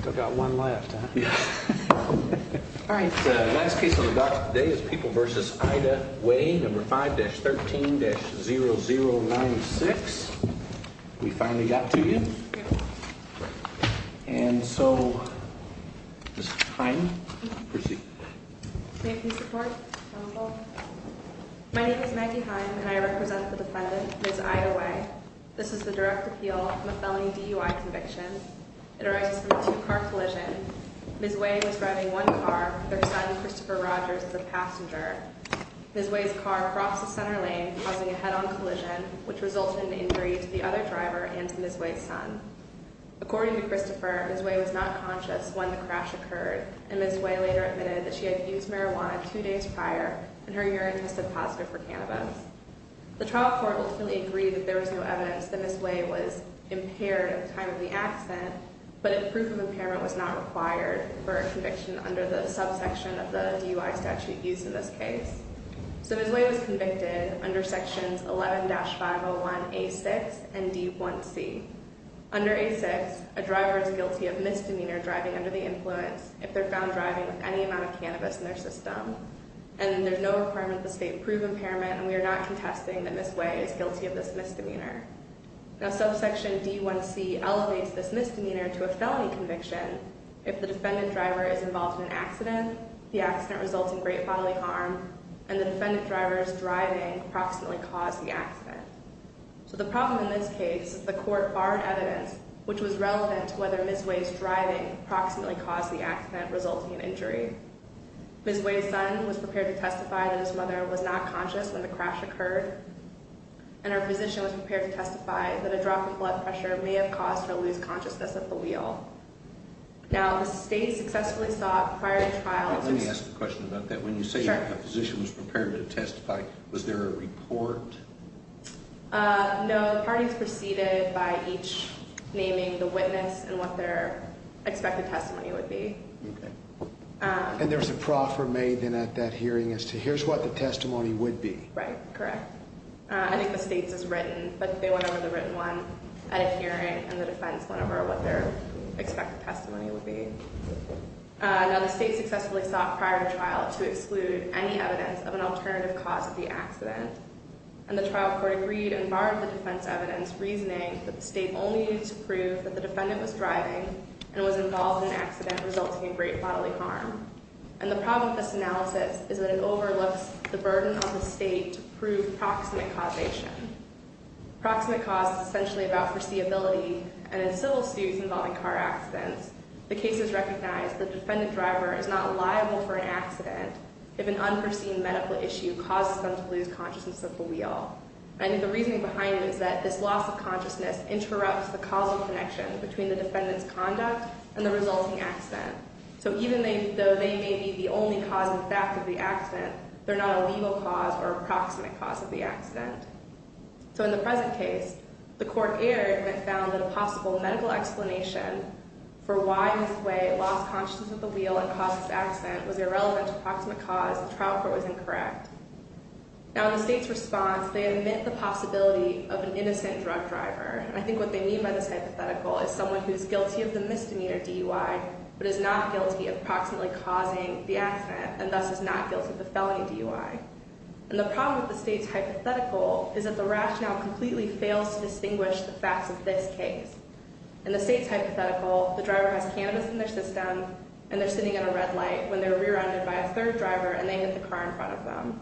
Still got one left, huh? All right. The last case on the docks today is People v. Ida Way, No. 5-13-0096. We finally got to you. And so, Ms. Heim, proceed. May I please report? My name is Maggie Heim, and I represent the defendant, Ms. Ida Way. This is the direct appeal from a felony DUI conviction. It arises from a two-car collision. Ms. Way was driving one car with her son, Christopher Rogers, as a passenger. Ms. Way's car crossed the center lane, causing a head-on collision, which resulted in injury to the other driver and to Ms. Way's son. According to Christopher, Ms. Way was not conscious when the crash occurred, and Ms. Way later admitted that she had used marijuana two days prior, and her urine tested positive for cannabis. The trial court ultimately agreed that there was no evidence that Ms. Way was impaired at the time of the accident, but that proof of impairment was not required for a conviction under the subsection of the DUI statute used in this case. So Ms. Way was convicted under Sections 11-501A6 and D1C. Under A6, a driver is guilty of misdemeanor driving under the influence if they're found driving with any amount of cannabis in their system, and there's no requirement that the state approve impairment, and we are not contesting that Ms. Way is guilty of this misdemeanor. Now, Subsection D1C elevates this misdemeanor to a felony conviction if the defendant driver is involved in an accident, the accident results in great bodily harm, and the defendant driver's driving approximately caused the accident. So the problem in this case is the court barred evidence which was relevant to whether Ms. Way's driving approximately caused the accident, resulting in injury. Ms. Way's son was prepared to testify that his mother was not conscious when the crash occurred, and her physician was prepared to testify that a drop in blood pressure may have caused her to lose consciousness at the wheel. Now, the state successfully sought prior to trial... Let me ask a question about that. Sure. When you say a physician was prepared to testify, was there a report? No, the parties proceeded by each naming the witness and what their expected testimony would be. Okay. And there was a proffer made then at that hearing as to here's what the testimony would be. Right, correct. I think the state's is written, but they went over the written one at a hearing, and the defense went over what their expected testimony would be. Now, the state successfully sought prior to trial to exclude any evidence of an alternative cause of the accident, and the trial court agreed and barred the defense evidence, reasoning that the state only needed to prove that the defendant was driving and was involved in an accident resulting in great bodily harm. And the problem with this analysis is that it overlooks the burden on the state to prove proximate causation. Proximate cause is essentially about foreseeability, and in civil suits involving car accidents, the case is recognized that the defendant driver is not liable for an accident if an unforeseen medical issue causes them to lose consciousness at the wheel. And the reasoning behind it is that this loss of consciousness interrupts the causal connection between the defendant's conduct and the resulting accident. So even though they may be the only cause in fact of the accident, they're not a legal cause or a proximate cause of the accident. So in the present case, the court erred and found that a possible medical explanation for why Ms. Way lost consciousness at the wheel and caused this accident was irrelevant to proximate cause. The trial court was incorrect. Now, in the state's response, they admit the possibility of an innocent drug driver. And I think what they mean by this hypothetical is someone who's guilty of the misdemeanor DUI but is not guilty of proximately causing the accident and thus is not guilty of the felony DUI. And the problem with the state's hypothetical is that the rationale completely fails to distinguish the facts of this case. In the state's hypothetical, the driver has cannabis in their system, and they're sitting at a red light when they're rear-ended by a third driver, and they hit the car in front of them.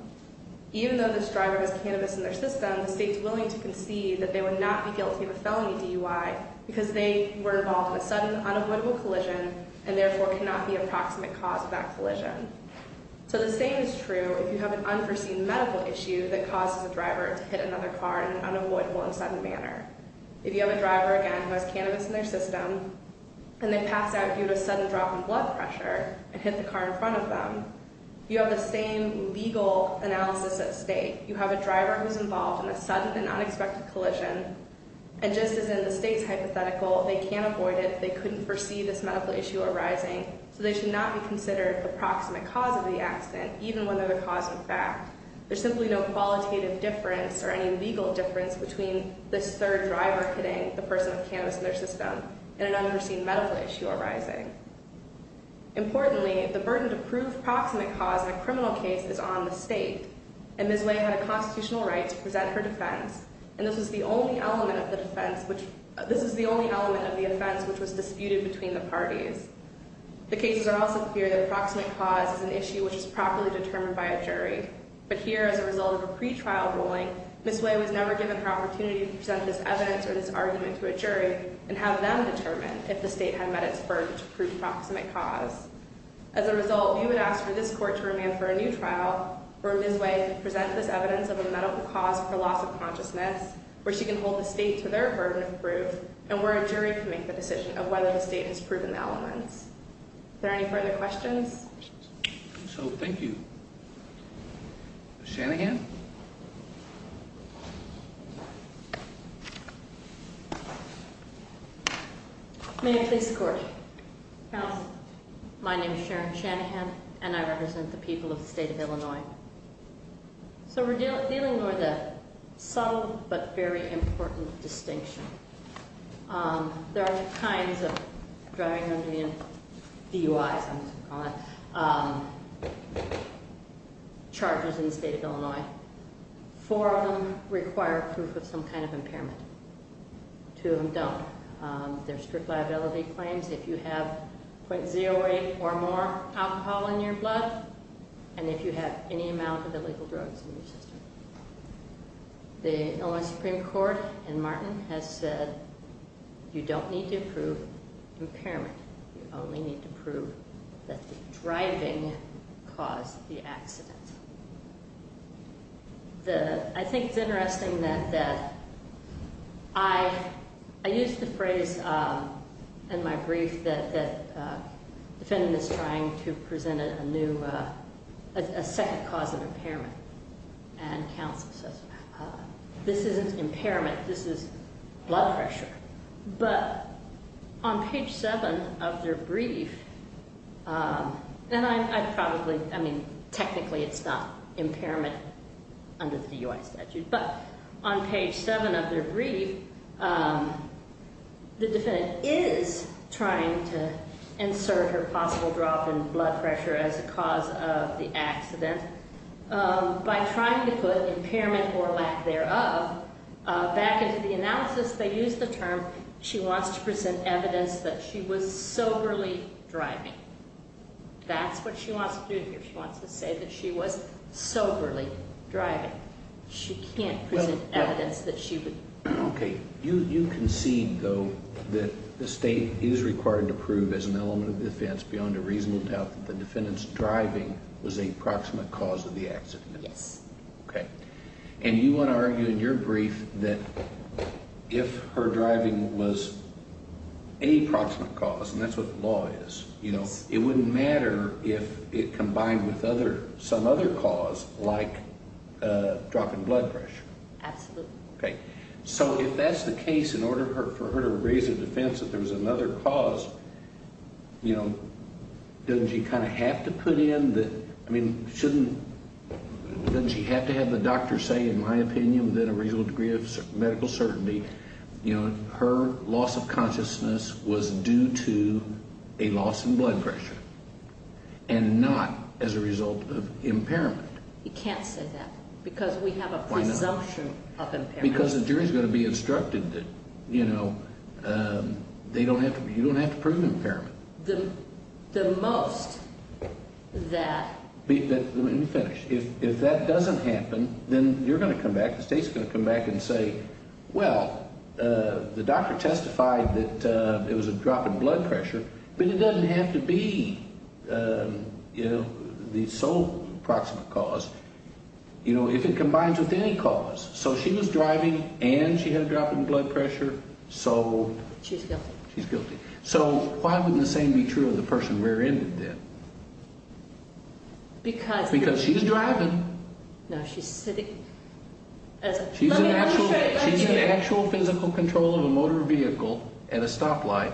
Even though this driver has cannabis in their system, the state's willing to concede that they would not be guilty of a felony DUI because they were involved in a sudden, unavoidable collision and therefore cannot be a proximate cause of that collision. So the same is true if you have an unforeseen medical issue that causes a driver to hit another car in an unavoidable and sudden manner. If you have a driver, again, who has cannabis in their system and they pass out due to a sudden drop in blood pressure and hit the car in front of them, you have the same legal analysis at stake. You have a driver who's involved in a sudden and unexpected collision, and just as in the state's hypothetical, they can't avoid it. They couldn't foresee this medical issue arising, so they should not be considered the proximate cause of the accident, even when they're the cause in fact. There's simply no qualitative difference or any legal difference between this third driver hitting the person with cannabis in their system and an unforeseen medical issue arising. Importantly, the burden to prove proximate cause in a criminal case is on the state, and Ms. Way had a constitutional right to present her defense, and this is the only element of the defense which was disputed between the parties. The cases are also clear that proximate cause is an issue which is properly determined by a jury, but here, as a result of a pretrial ruling, Ms. Way was never given her opportunity to present this evidence or this argument to a jury and have them determine if the state had met its burden to prove proximate cause. As a result, we would ask for this court to remand for a new trial where Ms. Way presents this evidence of a medical cause for loss of consciousness, where she can hold the state to their burden of proof, and where a jury can make the decision of whether the state has proven the elements. Are there any further questions? So, thank you. Shanahan? May I please score? House. My name is Sharon Shanahan, and I represent the people of the state of Illinois. So we're dealing with a subtle but very important distinction. There are all kinds of driving under the influence, DUIs, I'm going to call it, charges in the state of Illinois. Four of them require proof of some kind of impairment. Two of them don't. There are strict liability claims if you have 0.08 or more alcohol in your blood, and if you have any amount of illegal drugs in your system. The Illinois Supreme Court in Martin has said you don't need to prove impairment. You only need to prove that the driving caused the accident. I think it's interesting that I used the phrase in my brief that the defendant is trying to present a new, a second cause of impairment, and counsel says this isn't impairment, this is blood pressure. But on page 7 of their brief, and I probably, I mean, technically it's not impairment under the DUI statute, but on page 7 of their brief, the defendant is trying to insert her possible drop in blood pressure as a cause of the accident. By trying to put impairment or lack thereof back into the analysis, they use the term, she wants to present evidence that she was soberly driving. That's what she wants to do here. She wants to say that she was soberly driving. She can't present evidence that she would. Okay. You concede, though, that the state is required to prove as an element of defense beyond a reasonable doubt that the defendant's driving was a proximate cause of the accident. Yes. Okay. And you want to argue in your brief that if her driving was a proximate cause, and that's what the law is, it wouldn't matter if it combined with some other cause like drop in blood pressure. Absolutely. Okay. So if that's the case, in order for her to raise a defense that there was another cause, you know, doesn't she kind of have to put in the, I mean, shouldn't, doesn't she have to have the doctor say, in my opinion, within a reasonable degree of medical certainty, you know, her loss of consciousness was due to a loss in blood pressure and not as a result of impairment? You can't say that because we have a presumption of impairment. Why not? Because the jury's going to be instructed that, you know, they don't have to, you don't have to prove impairment. The most that. Let me finish. If that doesn't happen, then you're going to come back, the state's going to come back and say, well, the doctor testified that it was a drop in blood pressure, but it doesn't have to be, you know, the sole proximate cause. You know, if it combines with any cause, so she was driving and she had a drop in blood pressure, so. She's guilty. She's guilty. So why wouldn't the same be true of the person rear-ended then? Because. Because she's driving. No, she's sitting. She's in actual physical control of a motor vehicle at a stoplight.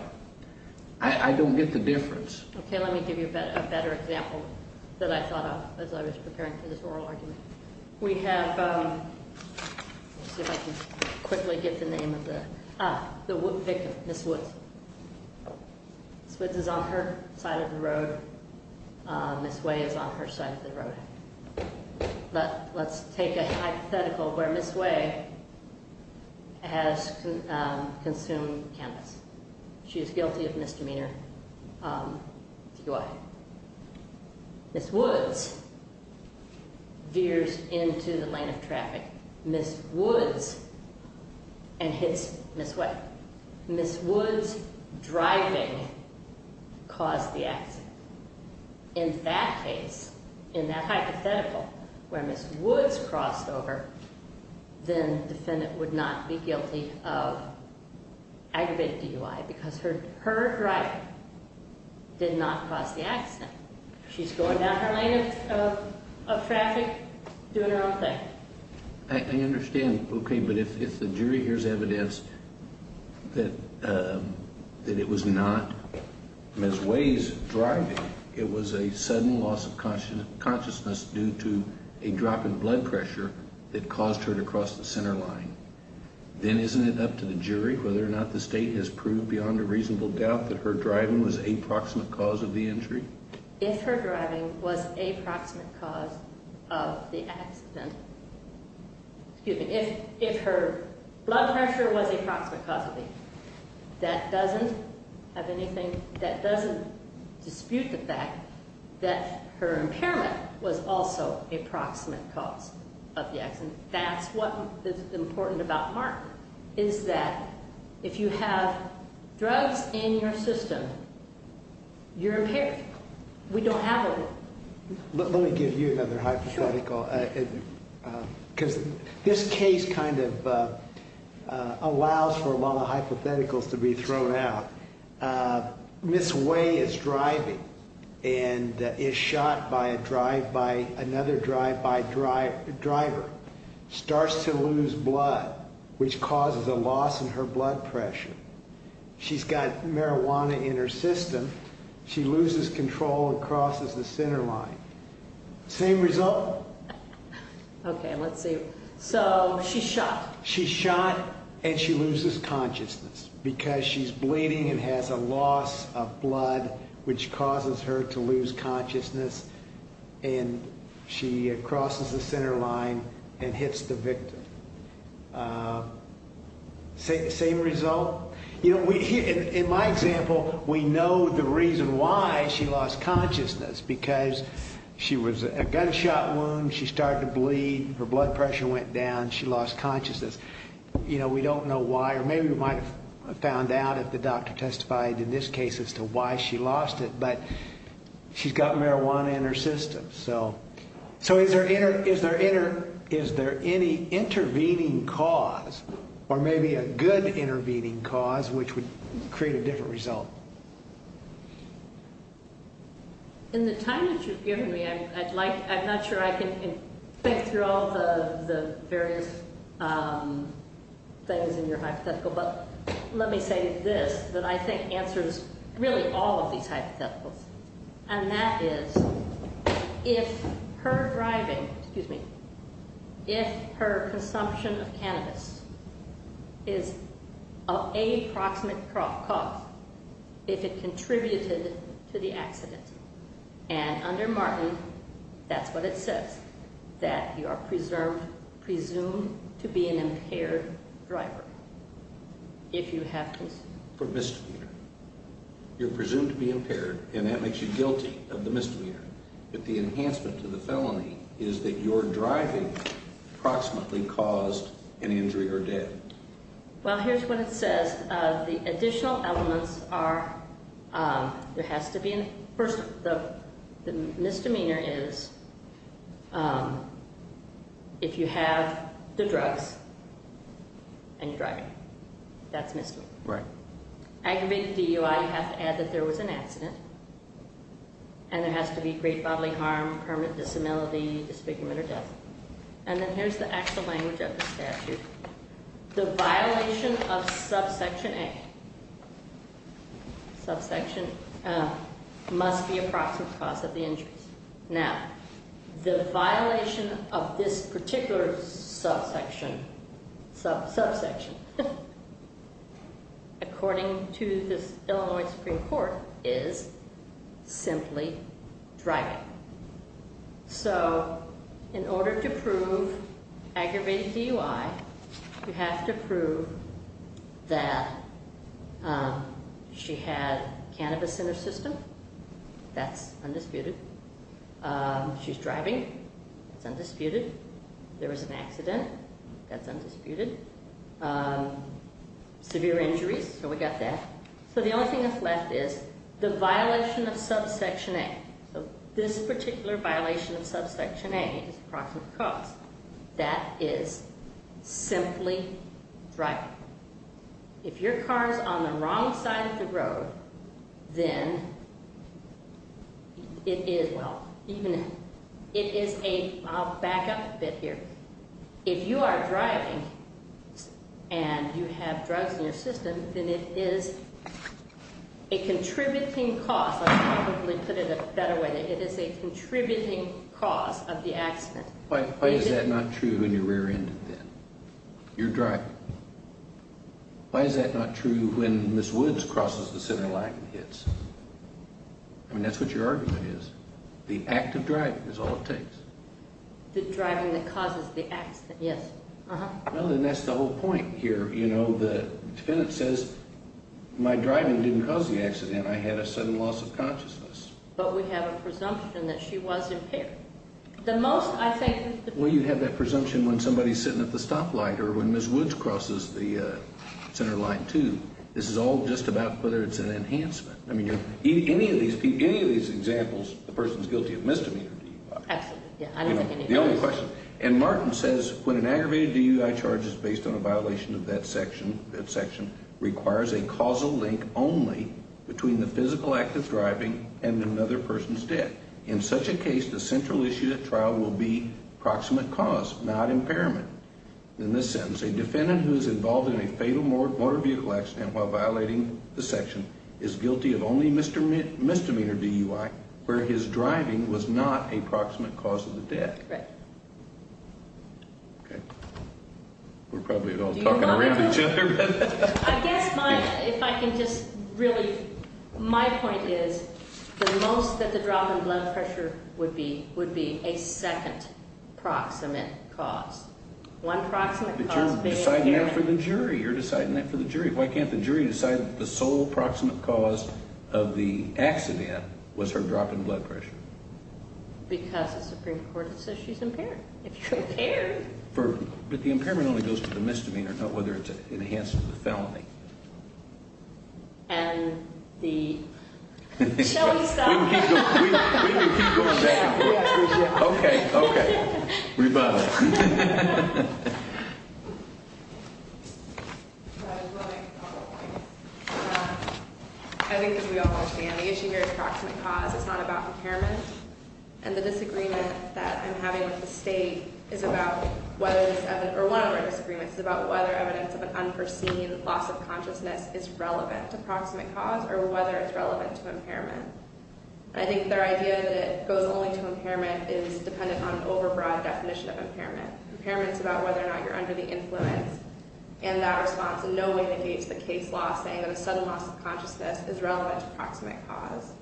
I don't get the difference. Okay, let me give you a better example that I thought of as I was preparing for this oral argument. We have, let's see if I can quickly get the name of the, ah, the victim, Ms. Woods. Ms. Woods is on her side of the road. Ms. Way is on her side of the road. Let's take a hypothetical where Ms. Way has consumed cannabis. She is guilty of misdemeanor DUI. Ms. Woods veers into the lane of traffic. Ms. Woods, and hits Ms. Way. Ms. Woods driving caused the accident. In that case, in that hypothetical where Ms. Woods crossed over, then the defendant would not be guilty of aggravated DUI because her driving did not cause the accident. She's going down her lane of traffic doing her own thing. I understand, okay, but if the jury hears evidence that it was not Ms. Way's driving, it was a sudden loss of consciousness due to a drop in blood pressure that caused her to cross the center line, then isn't it up to the jury whether or not the state has proved beyond a reasonable doubt that her driving was a proximate cause of the injury? If her driving was a proximate cause of the accident, excuse me, if her blood pressure was a proximate cause of the injury, that doesn't have anything, that doesn't dispute the fact that her impairment was also a proximate cause of the accident. And that's what is important about Martin, is that if you have drugs in your system, you're impaired. We don't have it. Let me give you another hypothetical. Because this case kind of allows for a lot of hypotheticals to be thrown out. Ms. Way is driving and is shot by another drive-by driver, starts to lose blood, which causes a loss in her blood pressure. She's got marijuana in her system. She loses control and crosses the center line. Same result? Okay, let's see. So she's shot. She's shot and she loses consciousness because she's bleeding and has a loss of blood, which causes her to lose consciousness, and she crosses the center line and hits the victim. Same result? You know, in my example, we know the reason why she lost consciousness, because she was a gunshot wound. She started to bleed. Her blood pressure went down. She lost consciousness. You know, we don't know why, or maybe we might have found out if the doctor testified in this case as to why she lost it, but she's got marijuana in her system. So is there any intervening cause, or maybe a good intervening cause, which would create a different result? In the time that you've given me, I'm not sure I can think through all the various things in your hypothetical, but let me say this, that I think answers really all of these hypotheticals, and that is, if her driving, excuse me, if her consumption of cannabis is of a proximate cause, if it contributed to the accident, and under Martin, that's what it says, that you are presumed to be an impaired driver. If you have to. For misdemeanor. You're presumed to be impaired, and that makes you guilty of the misdemeanor, but the enhancement to the felony is that your driving proximately caused an injury or death. Well, here's what it says. The additional elements are, there has to be, first, the misdemeanor is if you have the drugs and you're driving. That's misdemeanor. Right. Aggravated DUI, you have to add that there was an accident, and there has to be great bodily harm, permanent disability, disfigurement, or death. And then here's the actual language of the statute. The violation of subsection A, subsection A, must be a proximate cause of the injuries. Now, the violation of this particular subsection, subsection, according to this Illinois Supreme Court, is simply driving. So in order to prove aggravated DUI, you have to prove that she had cannabis in her system. That's undisputed. She's driving. That's undisputed. There was an accident. That's undisputed. Severe injuries. So we got that. So the only thing that's left is the violation of subsection A. So this particular violation of subsection A is a proximate cause. That is simply driving. If your car is on the wrong side of the road, then it is, well, even if it is a, I'll back up a bit here. If you are driving and you have drugs in your system, then it is a contributing cause. I'll probably put it a better way. It is a contributing cause of the accident. Why is that not true in your rear end, then? You're driving. Why is that not true when Ms. Woods crosses the center line and hits? I mean, that's what your argument is. The act of driving is all it takes. The driving that causes the accident, yes. Well, then that's the whole point here. The defendant says, my driving didn't cause the accident. I had a sudden loss of consciousness. But we have a presumption that she was impaired. The most, I think. Well, you have that presumption when somebody is sitting at the stoplight or when Ms. Woods crosses the center line, too. This is all just about whether it's an enhancement. I mean, any of these examples, the person is guilty of misdemeanor DUI. Absolutely. The only question. And Martin says when an aggravated DUI charge is based on a violation of that section, requires a causal link only between the physical act of driving and another person's death. In such a case, the central issue at trial will be proximate cause, not impairment. In this sentence, a defendant who is involved in a fatal motor vehicle accident while violating the section is guilty of only misdemeanor DUI, where his driving was not a proximate cause of the death. Correct. Okay. We're probably all talking around each other. I guess my, if I can just really, my point is the most that the drop in blood pressure would be a second proximate cause. One proximate cause being impairment. But you're deciding that for the jury. You're deciding that for the jury. Why can't the jury decide that the sole proximate cause of the accident was her drop in blood pressure? Because the Supreme Court says she's impaired. If you're impaired. But the impairment only goes to the misdemeanor, not whether it's enhanced with felony. And the. Shall we stop? We can keep going back. Okay. Okay. Rebuttal. I think as we all understand, the issue here is proximate cause. It's not about impairment. And the disagreement that I'm having with the state is about whether, or one of our disagreements is about whether evidence of an unforeseen loss of consciousness is relevant to proximate cause or whether it's relevant to impairment. I think their idea that it goes only to impairment is dependent on an overbroad definition of impairment. Impairment's about whether or not you're under the influence. And that response in no way negates the case law saying that a sudden loss of consciousness is relevant to proximate cause.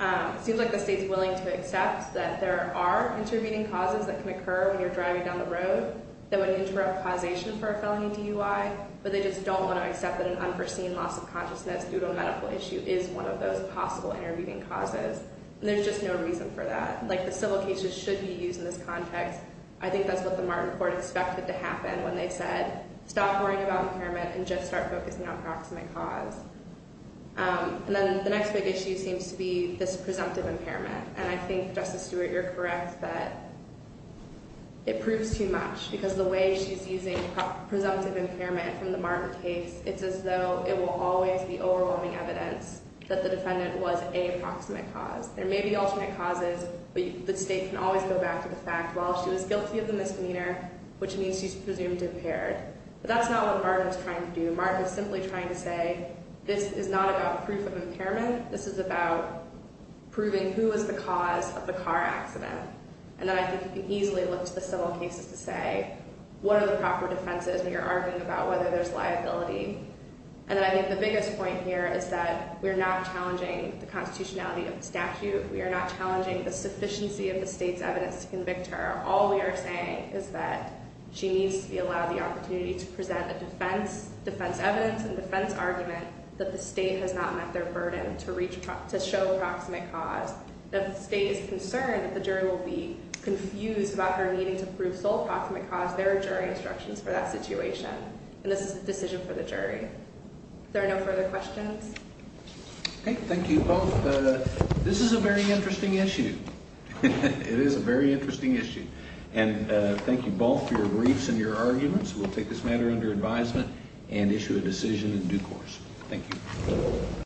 It seems like the state's willing to accept that there are intervening causes that can occur when you're driving down the road that would interrupt causation for a felony DUI. But they just don't want to accept that an unforeseen loss of consciousness due to a medical issue is one of those possible intervening causes. And there's just no reason for that. Like the civil cases should be used in this context. I think that's what the Martin Court expected to happen when they said stop worrying about impairment and just start focusing on proximate cause. And then the next big issue seems to be this presumptive impairment. And I think, Justice Stewart, you're correct that it proves too much. Because the way she's using presumptive impairment from the Martin case, it's as though it will always be overwhelming evidence that the defendant was a proximate cause. There may be alternate causes, but the state can always go back to the fact, well, she was guilty of the misdemeanor, which means she's presumed impaired. But that's not what Martin was trying to do. Martin was simply trying to say this is not about proof of impairment. This is about proving who was the cause of the car accident. And then I think you can easily look to the civil cases to say what are the proper defenses when you're arguing about whether there's liability. And I think the biggest point here is that we're not challenging the constitutionality of the statute. We are not challenging the sufficiency of the state's evidence to convict her. All we are saying is that she needs to be allowed the opportunity to present a defense, defense evidence, and defense argument that the state has not met their burden to show proximate cause. If the state is concerned that the jury will be confused about her needing to prove sole proximate cause, there are jury instructions for that situation. And this is a decision for the jury. Are there no further questions? Okay. Thank you both. This is a very interesting issue. It is a very interesting issue. And thank you both for your briefs and your arguments. We'll take this matter under advisement and issue a decision in due course. Thank you.